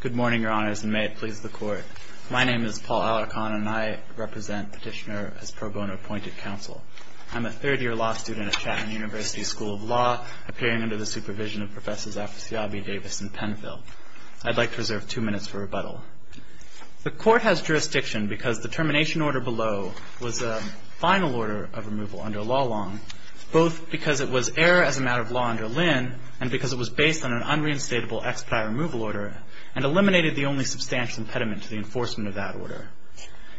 Good morning, Your Honors, and may it please the Court. My name is Paul Alarcon, and I represent Petitioner as pro bono appointed counsel. I'm a third-year law student at Chatham University School of Law, appearing under the supervision of Professors Afsyabi, Davis, and Penfield. I'd like to reserve two minutes for rebuttal. The Court has jurisdiction because the termination order below was a final order of removal under law long, both because it was error as a matter of law under Lynn and because it was based on an unreinstatable expedite removal order and eliminated the only substantial impediment to the enforcement of that order.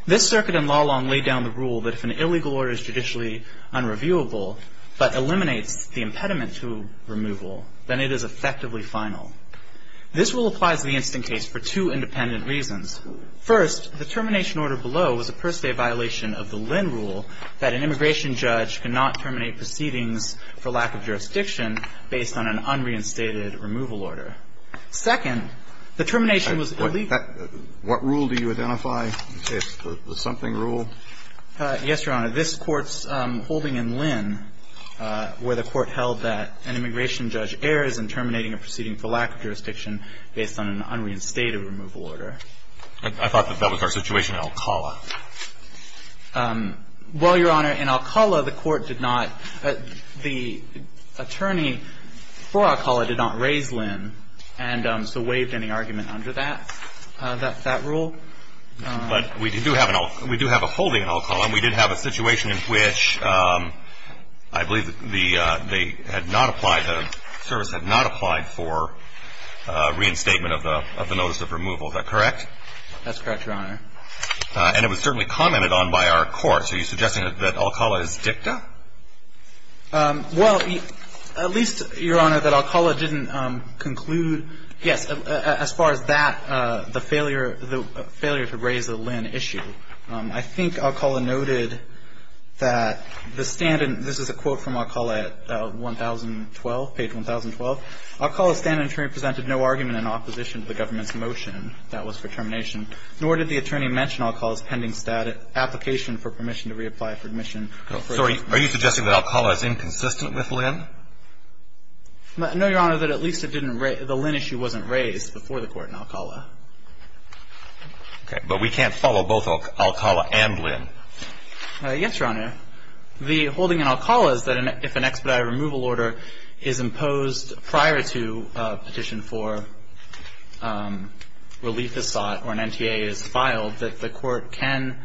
This circuit in law long laid down the rule that if an illegal order is judicially unreviewable but eliminates the impediment to removal, then it is effectively final. This rule applies to the instant case for two independent reasons. First, the termination order below was a per se violation of the Lynn rule that an immigration judge cannot terminate proceedings for lack of jurisdiction based on an unreinstated removal order. Second, the termination was illegal. What rule do you identify? The something rule? Yes, Your Honor. This Court's holding in Lynn, where the Court held that an immigration judge errs in terminating a proceeding for lack of jurisdiction based on an unreinstated removal order. I thought that that was our situation in Alcala. Well, Your Honor, in Alcala, the Court did not, the attorney for Alcala did not raise Lynn and so waived any argument under that rule. But we do have a holding in Alcala, and we did have a situation in which I believe they had not applied, the service had not applied for reinstatement of the notice of removal. Is that correct? That's correct, Your Honor. And it was certainly commented on by our courts. Are you suggesting that Alcala is dicta? Well, at least, Your Honor, that Alcala didn't conclude, yes, as far as that, the failure to raise the Lynn issue. I think Alcala noted that the stand in, this is a quote from Alcala at page 1,012. Alcala's standing attorney presented no argument in opposition to the government's motion that was for termination, nor did the attorney mention Alcala's standing application for permission to reapply for admission. Are you suggesting that Alcala is inconsistent with Lynn? No, Your Honor, that at least the Lynn issue wasn't raised before the court in Alcala. But we can't follow both Alcala and Lynn. Yes, Your Honor. The holding in Alcala is that if an expedited removal order is imposed prior to a petition for relief is sought or an NTA is filed, that the court can,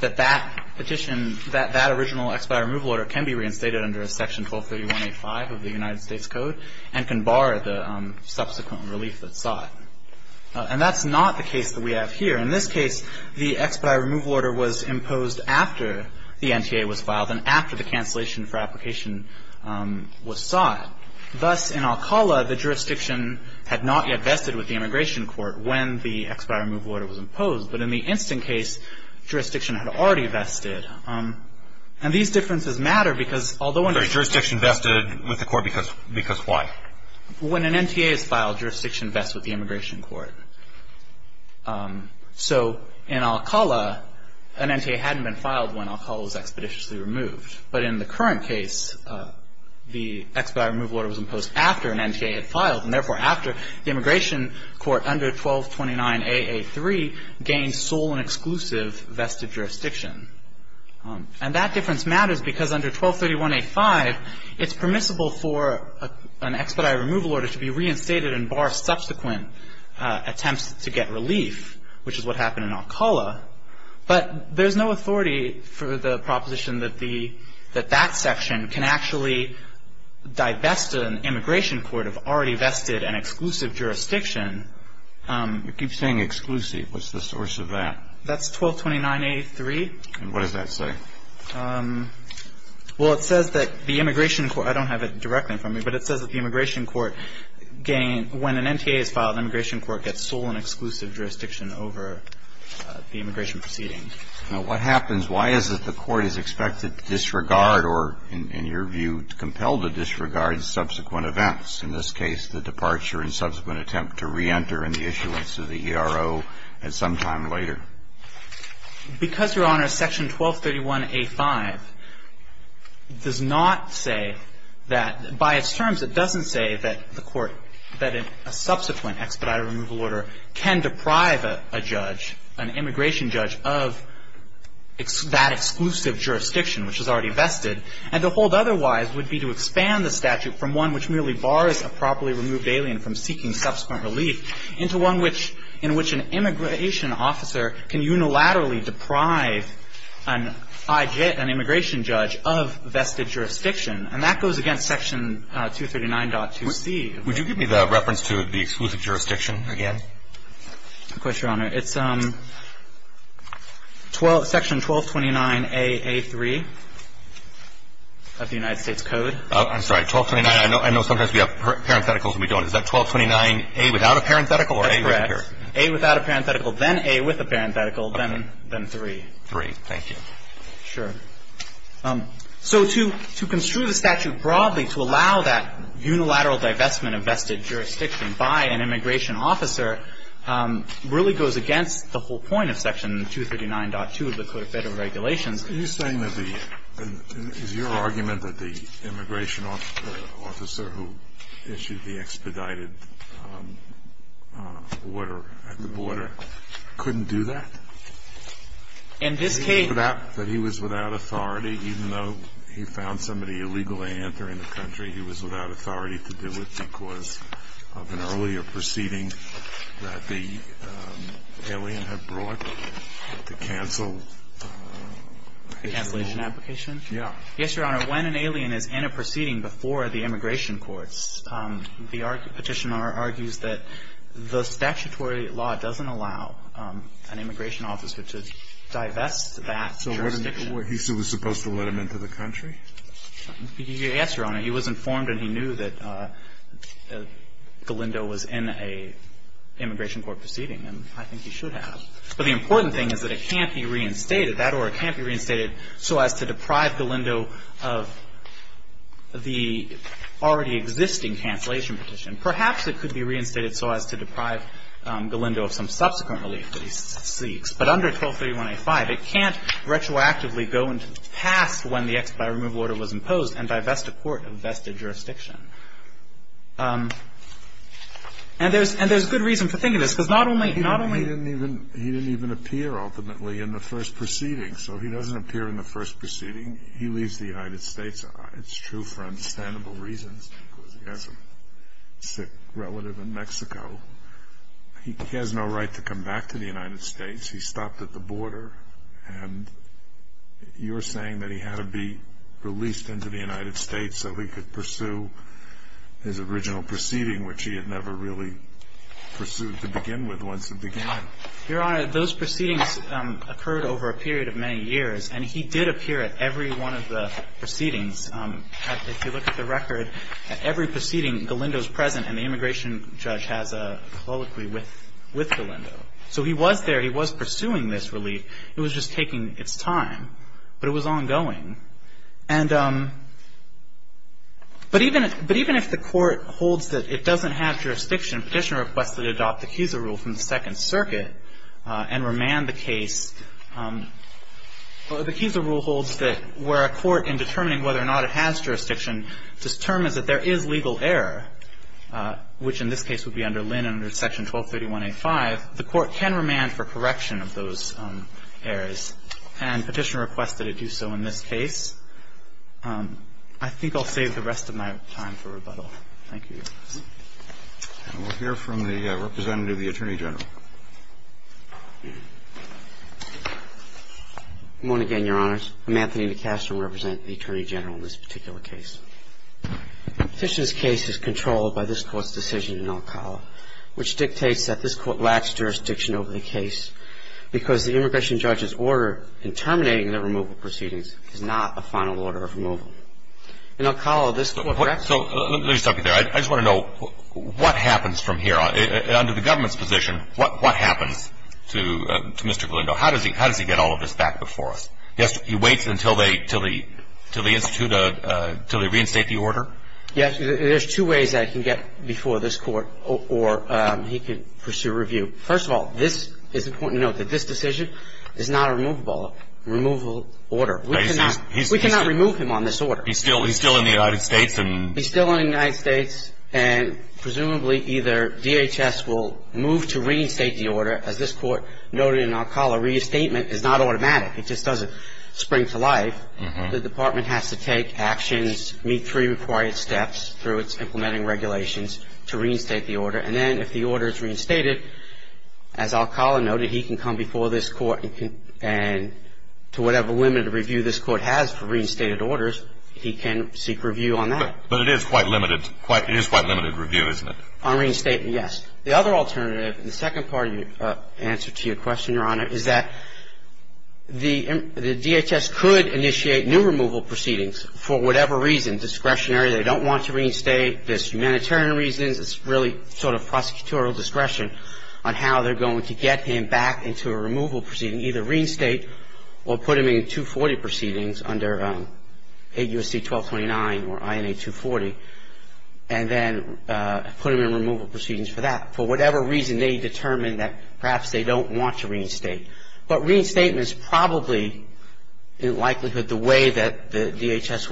that that petition, that original expedited removal order can be reinstated under a section 1231A5 of the United States Code and can bar the subsequent relief that's sought. And that's not the case that we have here. In this case, the expedited removal order was imposed after the NTA was filed and after the cancellation for application was sought. Thus, in Alcala, the jurisdiction had not yet vested with the immigration court when the expedited removal order was imposed. But in the instant case, jurisdiction had already vested. And these differences matter because although a jurisdiction vested with the court because why? When an NTA is filed, jurisdiction vests with the immigration court. So in Alcala, an NTA hadn't been filed when Alcala was expeditiously removed. was imposed after an NTA had filed, and therefore, after the immigration court under 1229AA3 gained sole and exclusive vested jurisdiction. And that difference matters because under 1231A5, it's permissible for an expedited removal order to be reinstated and bar subsequent attempts to get relief, which is what happened in Alcala. But there's no authority for the proposition that that section can actually divest an immigration court of already vested and exclusive jurisdiction. You keep saying exclusive. What's the source of that? That's 1229A3. And what does that say? Well, it says that the immigration court, I don't have it directly in front of me, but it says that the immigration court gained, when an NTA is filed, the immigration court gets sole and exclusive jurisdiction over the immigration proceeding. Now, what happens? Why is it the court is expected to disregard or, in your view, compelled to disregard subsequent events? In this case, the departure and subsequent attempt to re-enter in the issuance of the ERO at some time later. Because, Your Honor, section 1231A5 does not say that, by its terms, it doesn't say that the court, that a subsequent expedited removal order can deprive a judge, an immigration judge, of that exclusive jurisdiction, which is already vested. And to hold otherwise would be to expand the statute from one which merely bars a properly removed alien from seeking subsequent relief into one which an immigration officer can unilaterally deprive an immigration judge of vested jurisdiction. And that goes against section 239.2c. Would you give me the reference to the exclusive jurisdiction again? Of course, Your Honor. It's section 1229AA3 of the United States Code. I'm sorry. 1229, I know sometimes we have parentheticals and we don't. Is that 1229A without a parenthetical or A with a parenthetical? A without a parenthetical, then A with a parenthetical, then 3. 3, thank you. Sure. So to construe the statute broadly to allow that unilateral divestment of vested jurisdiction by an immigration officer really goes against the whole point of section 239.2 of the Code of Federal Regulations. Are you saying that the – is your argument that the immigration officer who issued the expedited order at the border couldn't do that? In this case – That he was without authority, even though he found somebody illegally entering the country, he was without authority to do it because of an earlier proceeding that the alien had brought to cancel the immigration. The cancellation application? Yeah. Yes, Your Honor. When an alien is in a proceeding before the immigration courts, the petitioner argues that the statutory law doesn't allow an immigration officer to divest that jurisdiction. So he was supposed to let him into the country? Yes, Your Honor. He was informed and he knew that Galindo was in a immigration court proceeding, and I think he should have. But the important thing is that it can't be reinstated. That order can't be reinstated so as to deprive Galindo of the already existing cancellation petition. Perhaps it could be reinstated so as to deprive Galindo of some subsequent relief that he seeks. But under 1231A5, it can't retroactively go past when the expedited removal order was imposed and divest a court of vested jurisdiction. And there's good reason for thinking this, because not only He didn't even appear ultimately in the first proceeding. So he doesn't appear in the first proceeding. He leaves the United States. It's true for understandable reasons because he has a sick relative in Mexico. He has no right to come back to the United States. He stopped at the border, and you're saying that he had to be released into the United States so he could pursue his original proceeding, which he had never really pursued to begin with once it began. Your Honor, those proceedings occurred over a period of many years, and he did appear at every one of the proceedings. If you look at the record, at every proceeding, Galindo's present, and the immigration judge has a colloquy with Galindo. So he was there. It was just taking its time, but it was ongoing. And but even if the court holds that it doesn't have jurisdiction, Petitioner requested to adopt the Kieser rule from the Second Circuit and remand the case. The Kieser rule holds that where a court in determining whether or not it has jurisdiction determines that there is legal error, which in this case would be under Linn under Section 1231A5, the court can remand for correction of those errors, and Petitioner requested to do so in this case. I think I'll save the rest of my time for rebuttal. Thank you. And we'll hear from the representative of the Attorney General. Good morning again, Your Honors. I'm Anthony DeCastro, representing the Attorney General in this particular case. Petitioner's case is controlled by this court's decision in El Cala, which dictates that this court lacks jurisdiction over the case. Because the immigration judge's order in terminating the removal proceedings is not a final order of removal. In El Cala, this court recommends So let me stop you there. I just want to know, what happens from here? Under the government's position, what happens to Mr. Galindo? How does he get all of this back before us? He waits until they institute a, until they reinstate the order? Yes, there's two ways that he can get before this court, or he can pursue review. First of all, this is important to note, that this decision is not a removable order. We cannot remove him on this order. He's still in the United States and- He's still in the United States and presumably either DHS will move to reinstate the order, as this court noted in El Cala, reinstatement is not automatic. It just doesn't spring to life. The department has to take actions, meet three required steps through its implementing regulations to reinstate the order, and then if the order is reinstated, as El Cala noted, he can come before this court and to whatever limited review this court has for reinstated orders, he can seek review on that. But it is quite limited, it is quite limited review, isn't it? On reinstatement, yes. The other alternative, and the second part of your answer to your question, Your Honor, is that the DHS could initiate new removal proceedings for whatever reason, discretionary, they don't want to reinstate, there's humanitarian reasons, it's really sort of prosecutorial discretion on how they're going to get him back into a removal proceeding, either reinstate or put him in 240 proceedings under AUSC 1229 or INA 240, and then put him in removal proceedings for that. For whatever reason, they determine that perhaps they don't want to reinstate. But reinstatement is probably in likelihood the way that the DHS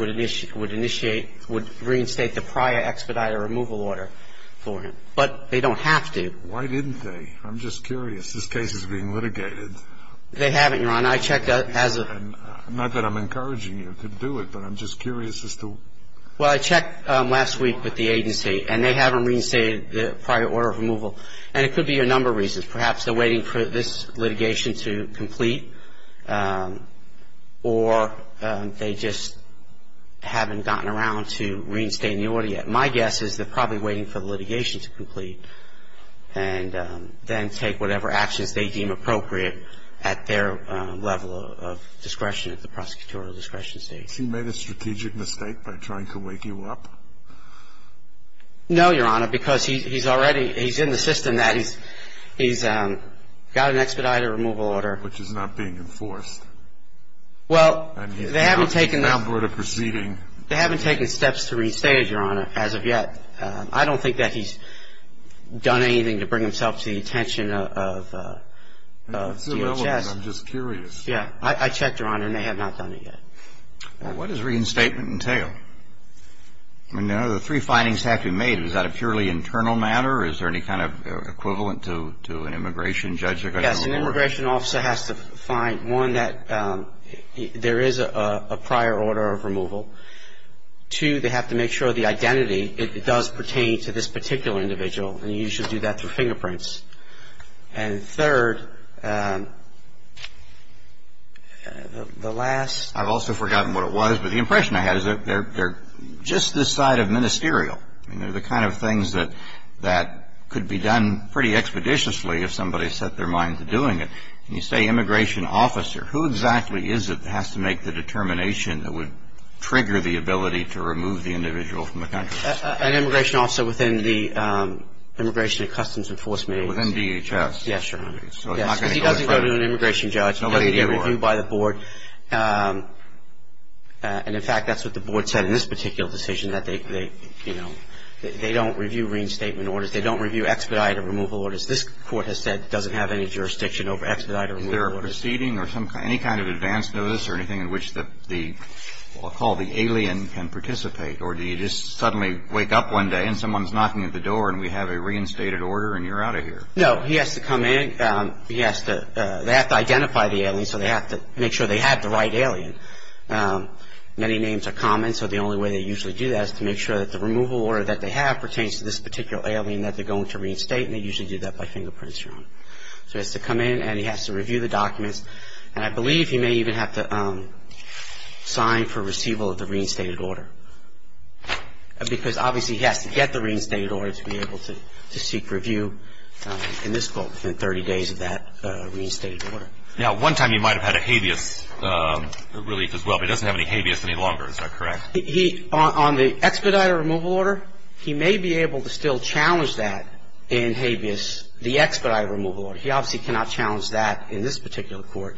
would initiate, would reinstate the prior expedited removal order for him. But they don't have to. Why didn't they? I'm just curious. This case is being litigated. They haven't, Your Honor. I checked as a Not that I'm encouraging you to do it, but I'm just curious as to Well, I checked last week with the agency, and they haven't reinstated the prior order of removal, and it could be a number of reasons. Perhaps they're waiting for this litigation to complete, or they just haven't gotten around to reinstating the order yet. My guess is they're probably waiting for the litigation to complete and then take whatever actions they deem appropriate at their level of discretion, at the prosecutorial discretion stage. Has he made a strategic mistake by trying to wake you up? No, Your Honor, because he's already he's in the system that he's got an expedited removal order. Which is not being enforced. Well, they haven't taken the And he's not a member of the proceeding. They haven't taken steps to reinstate it, Your Honor, as of yet. I don't think that he's done anything to bring himself to the attention of DHS. I'm just curious. Yeah, I checked, Your Honor, and they have not done it yet. Well, what does reinstatement entail? I mean, the three findings have to be made. Is that a purely internal matter? Is there any kind of equivalent to an immigration judge? Yes, an immigration officer has to find, one, that there is a prior order of removal. Two, they have to make sure the identity, it does pertain to this particular individual, and you usually do that through fingerprints. And third, the last I've also forgotten what it was, but the impression I had is they're just this side of ministerial. I mean, they're the kind of things that could be done pretty expeditiously if somebody set their mind to doing it. And you say immigration officer. Who exactly is it that has to make the determination that would trigger the ability to remove the individual from the country? An immigration officer within the Immigration and Customs Enforcement Agency. Within DHS. Yes, Your Honor. So they're not going to go to an immigration judge. Nobody would be able to do it. He doesn't get reviewed by the board. And, in fact, that's what the board said in this particular decision, that they, you know, they don't review reinstatement orders. They don't review expedited removal orders. This Court has said it doesn't have any jurisdiction over expedited removal orders. Is there a proceeding or any kind of advance notice or anything in which the, what we'll call the alien can participate? Or do you just suddenly wake up one day and someone's knocking at the door and we have a reinstated order and you're out of here? No. He has to come in. He has to, they have to identify the alien. So they have to make sure they have the right alien. Many names are common. So the only way they usually do that is to make sure that the removal order that they have pertains to this particular alien that they're going to reinstate. And they usually do that by fingerprints, Your Honor. So he has to come in and he has to review the documents. And I believe he may even have to sign for receival of the reinstated order. Because, obviously, he has to get the reinstated order to be able to seek review in this Court within 30 days of that reinstated order. Now, one time he might have had a habeas relief as well, but he doesn't have any habeas any longer. Is that correct? He, on the expedited removal order, he may be able to still challenge that in habeas. The expedited removal order, he obviously cannot challenge that in this particular Court.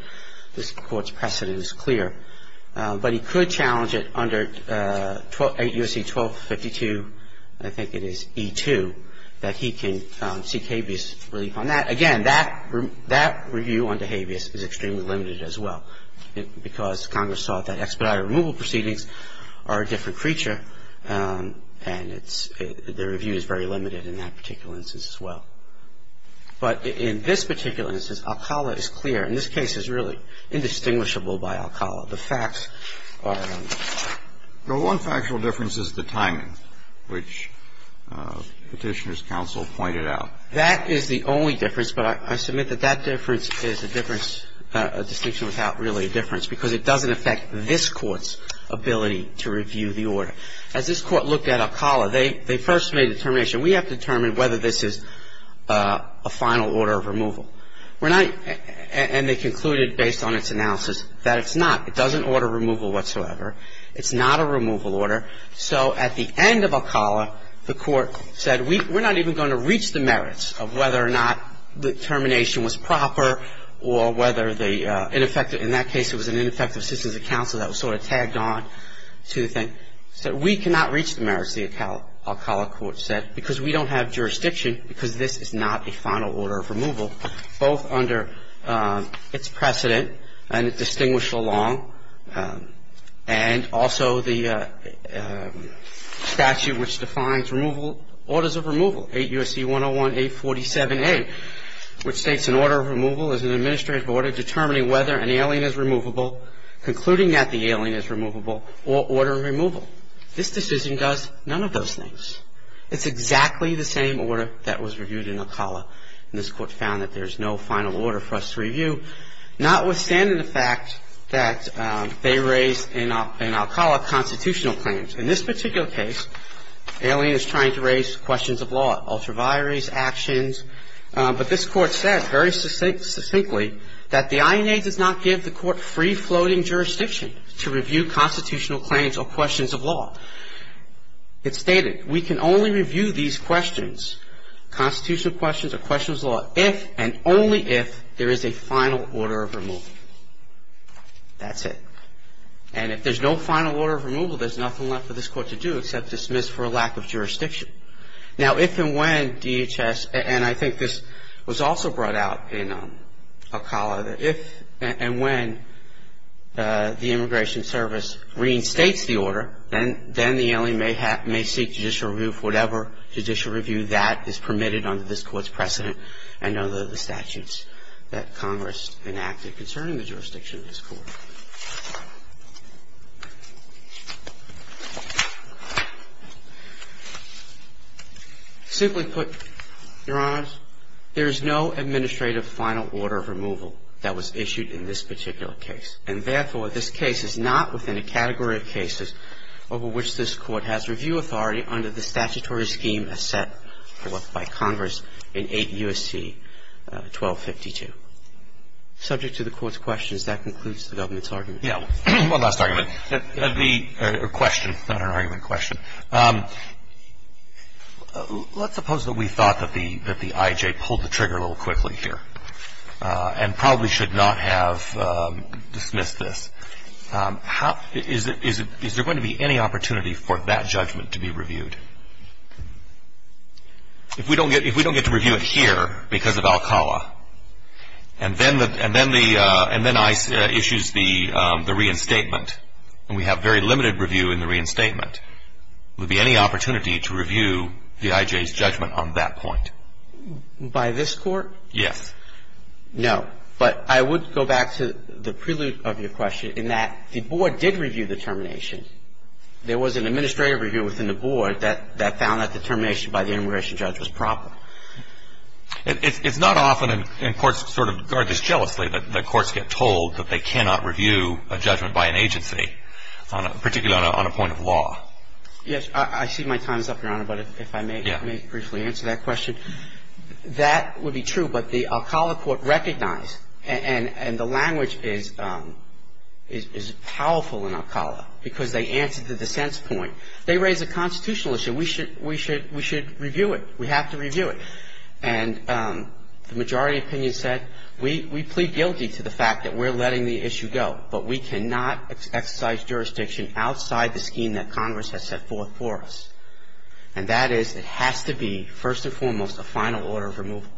This Court's precedent is clear. But he could challenge it under 8 U.S.C. 1252, I think it is, E2, that he can seek habeas relief on that. Again, that review on the habeas is extremely limited as well. Because Congress thought that expedited removal proceedings are a different creature. And it's the review is very limited in that particular instance as well. But in this particular instance, Alcala is clear. And this case is really indistinguishable by Alcala. The facts are. The one factual difference is the timing, which Petitioner's counsel pointed out. That is the only difference. But I submit that that difference is a difference, a distinction without really a difference. Because it doesn't affect this Court's ability to review the order. As this Court looked at Alcala, they first made a determination. We have to determine whether this is a final order of removal. We're not – and they concluded, based on its analysis, that it's not. It doesn't order removal whatsoever. It's not a removal order. So at the end of Alcala, the Court said we're not even going to reach the merits of whether or not the termination was proper or whether the ineffective In that case, it was an ineffective assistance of counsel that was sort of tagged on to the thing. So we cannot reach the merits, the Alcala Court said, because we don't have jurisdiction, because this is not a final order of removal, both under its precedent and its distinguished law and also the statute which defines removal, orders of removal, 8 U.S.C. 101-847-A, which states an order of removal is an administrative order determining whether an alien is removable, concluding that the alien is removable, or order of removal. This decision does none of those things. It's exactly the same order that was reviewed in Alcala, and this Court found that there's no final order for us to review, notwithstanding the fact that they raised in Alcala constitutional claims. In this particular case, alien is trying to raise questions of law, ultraviaries, actions, but this Court said very succinctly that the INA does not give the Court free-floating jurisdiction to review constitutional claims or questions of law. It stated we can only review these questions, constitutional questions or questions of law, if and only if there is a final order of removal. That's it. And if there's no final order of removal, there's nothing left for this Court to do except dismiss for a lack of jurisdiction. Now, if and when DHS, and I think this was also brought out in Alcala, that if and when the Immigration Service reinstates the order, then the alien may seek judicial review for whatever judicial review that is permitted under this Court's precedent and under the statutes that Congress enacted concerning the jurisdiction of this Court. Simply put, Your Honors, there is no administrative final order of removal that was issued in this particular case. And therefore, this case is not within a category of cases over which this Court has review authority under the statutory scheme as set forth by Congress in 8 U.S.C. 1252. Subject to the Court's questions, that concludes the government's argument. Roberts. One last argument. The question, not an argument question. Let's suppose that we thought that the I.J. pulled the trigger a little quickly here and probably should not have dismissed this. Is there going to be any opportunity for that judgment to be reviewed? If we don't get to review it here because of Alcala, and then the, and then the, and then ICE issues the reinstatement, and we have very limited review in the reinstatement, would there be any opportunity to review the I.J.'s judgment on that point? By this Court? Yes. No. But I would go back to the prelude of your question in that the Board did review the termination. There was an administrative review within the Board that found that the termination by the immigration judge was proper. It's not often in courts sort of guard this jealously that the courts get told that they cannot review a judgment by an agency, particularly on a point of law. I see my time is up, Your Honor, but if I may briefly answer that question. That would be true, but the Alcala Court recognized, and the language is powerful in Alcala because they answered the dissent's point. They raised a constitutional issue. We should, we should, we should review it. We have to review it. And the majority opinion said, we, we plead guilty to the fact that we're letting the issue go, but we cannot exercise jurisdiction outside the scheme that Congress has set forth for us. And that is, it has to be, first and foremost, a final order of removal.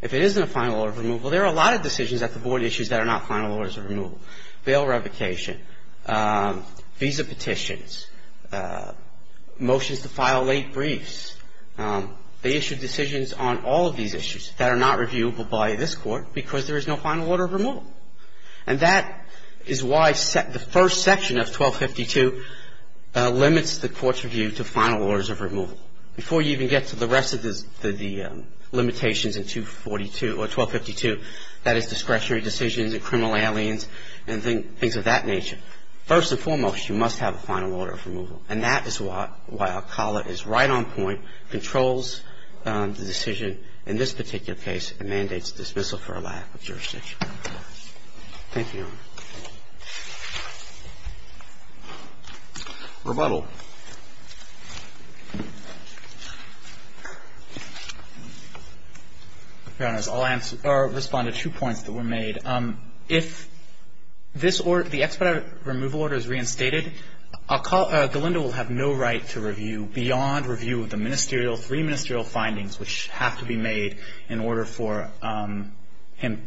If it isn't a final order of removal, there are a lot of decisions at the Board issues that are not final orders of removal. Bail revocation, visa petitions, motions to file late briefs. They issued decisions on all of these issues that are not reviewable by this Court because there is no final order of removal. And that is why the first section of 1252 limits the Court's review to final orders of removal. Before you even get to the rest of the, the limitations in 242 or 1252, that is discretionary decisions and criminal aliens and things of that nature. First and foremost, you must have a final order of removal. And that is what, why Alcala is right on point, controls the decision in this particular case and mandates dismissal for a lack of jurisdiction. Thank you, Your Honor. Rebuttal. Your Honors, I'll answer, or respond to two points that were made. If this order, the expedited removal order is reinstated, Alcala, Galindo will have no right to review beyond review of the ministerial, three ministerial findings which have to be made in order for him,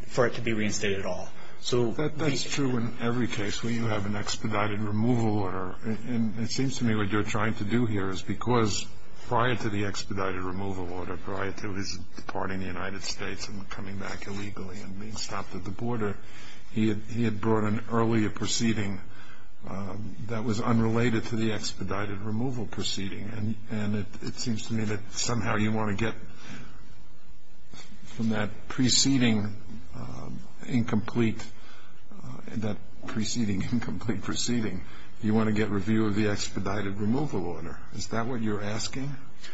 for it to be reinstated at all. So. That's true in every case where you have an expedited removal order. And it seems to me what you're trying to do here is because prior to the expedited removal order, prior to his departing the United States and coming back illegally and being stopped at the border, he had brought an earlier proceeding that was unrelated to the expedited removal proceeding. And it seems to me that somehow you want to get from that preceding incomplete, that preceding incomplete proceeding, you want to get review of the expedited removal order. Is that what you're asking?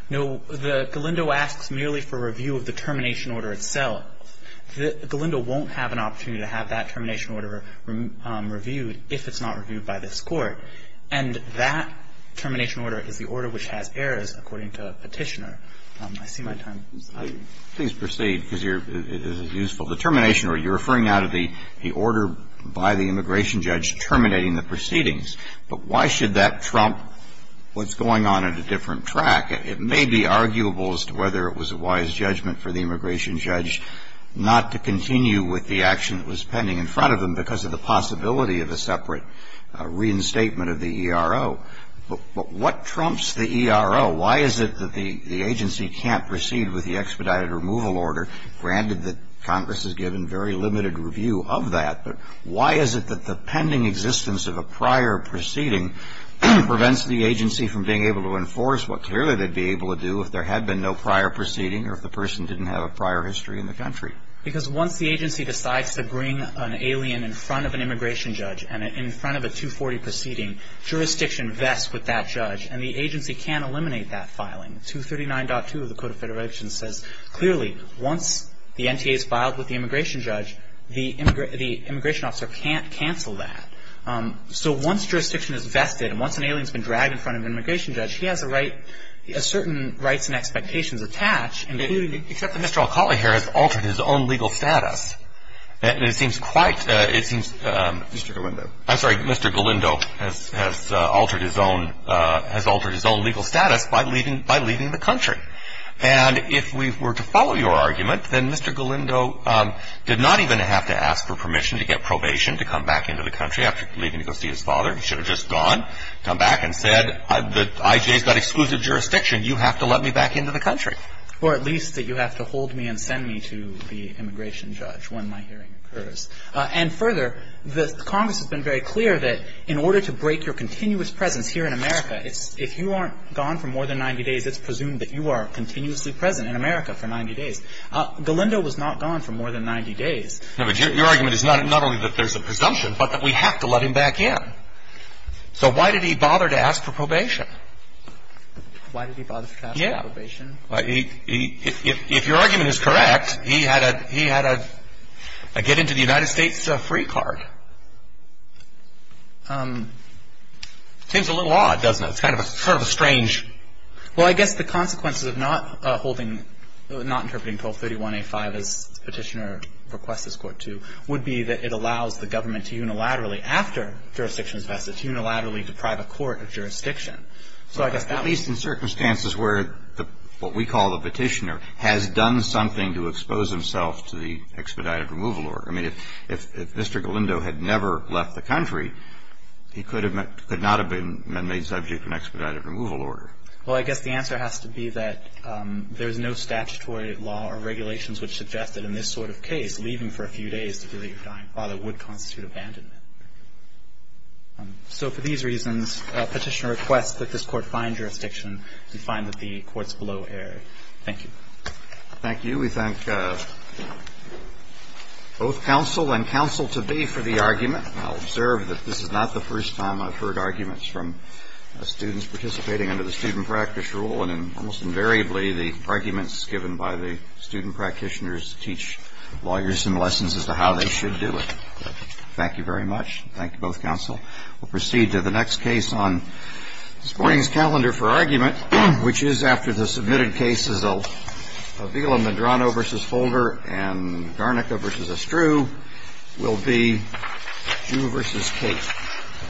No, the Galindo asks merely for review of the termination order itself. The Galindo won't have an opportunity to have that termination order reviewed if it's not reviewed by this court. And that termination order is the order which has errors according to Petitioner. I see my time. Please proceed because it is useful. The termination order, you're referring now to the order by the immigration judge terminating the proceedings. But why should that trump what's going on at a different track? It may be arguable as to whether it was a wise judgment for the immigration judge not to continue with the action that was pending in front of him because of the possibility of a separate reinstatement of the ERO. But what trumps the ERO? Why is it that the agency can't proceed with the expedited removal order, granted that Congress has given very limited review of that, but why is it that the pending existence of a prior proceeding prevents the agency from being able to enforce what clearly they'd be able to do if there had been no prior proceeding or if the person didn't have a prior history in the country? Because once the agency decides to bring an alien in front of an immigration judge and in front of a 240 proceeding, jurisdiction vests with that judge, and the agency can't eliminate that filing. 239.2 of the Code of Federations says clearly once the NTA is filed with the immigration judge, the immigration officer can't cancel that. So once jurisdiction is vested and once an alien has been dragged in front of an immigration judge, he has a right, a certain rights and expectations attached, including the ---- Except that Mr. Alcala here has altered his own legal status. It seems quite, it seems ---- Mr. Galindo. I'm sorry. Mr. Galindo has altered his own, has altered his own legal status by leaving, by leaving the country. And if we were to follow your argument, then Mr. Galindo did not even have to ask for permission to get probation to come back into the country after leaving to go see his father. He should have just gone, come back and said, the IJ has got exclusive jurisdiction. You have to let me back into the country. Or at least that you have to hold me and send me to the immigration judge when my hearing occurs. And further, the Congress has been very clear that in order to break your continuous presence here in America, it's, if you aren't gone for more than 90 days, it's presumed that you are continuously present in America for 90 days. Galindo was not gone for more than 90 days. No, but your argument is not, not only that there's a presumption, but that we have to let him back in. So why did he bother to ask for probation? Why did he bother to ask for probation? Yeah. He, he, if, if your argument is correct, he had a, he had a get-into-the-United-States free card. It seems a little odd, doesn't it? It's kind of a, sort of a strange. Well, I guess the consequences of not holding, not interpreting 1231A5 as Petitioner requests this Court to, would be that it allows the government to unilaterally, after jurisdiction is vested, to unilaterally deprive a court of jurisdiction. So I guess that leads to circumstances where the, what we call the Petitioner has done something to expose himself to the expedited removal order. I mean, if, if Mr. Galindo had never left the country, he could have, could not have been made subject to an expedited removal order. Well, I guess the answer has to be that there's no statutory law or regulations which suggest that in this sort of case, leaving for a few days to feel that you're dying father would constitute abandonment. So for these reasons, Petitioner requests that this Court find jurisdiction to find that the court's below error. Thank you. Thank you. We thank both counsel and counsel-to-be for the argument. I'll observe that this is not the first time I've heard arguments from students participating under the student practice rule, and almost invariably, the arguments given by the student practitioners teach lawyers some lessons as to how they should do it. Thank you very much. Thank you, both counsel. We'll proceed to the next case on this morning's calendar for argument, which is after the submitted cases of Avila-Medrano v. Holder and Garnica v. Estru will be Drew v. Kate.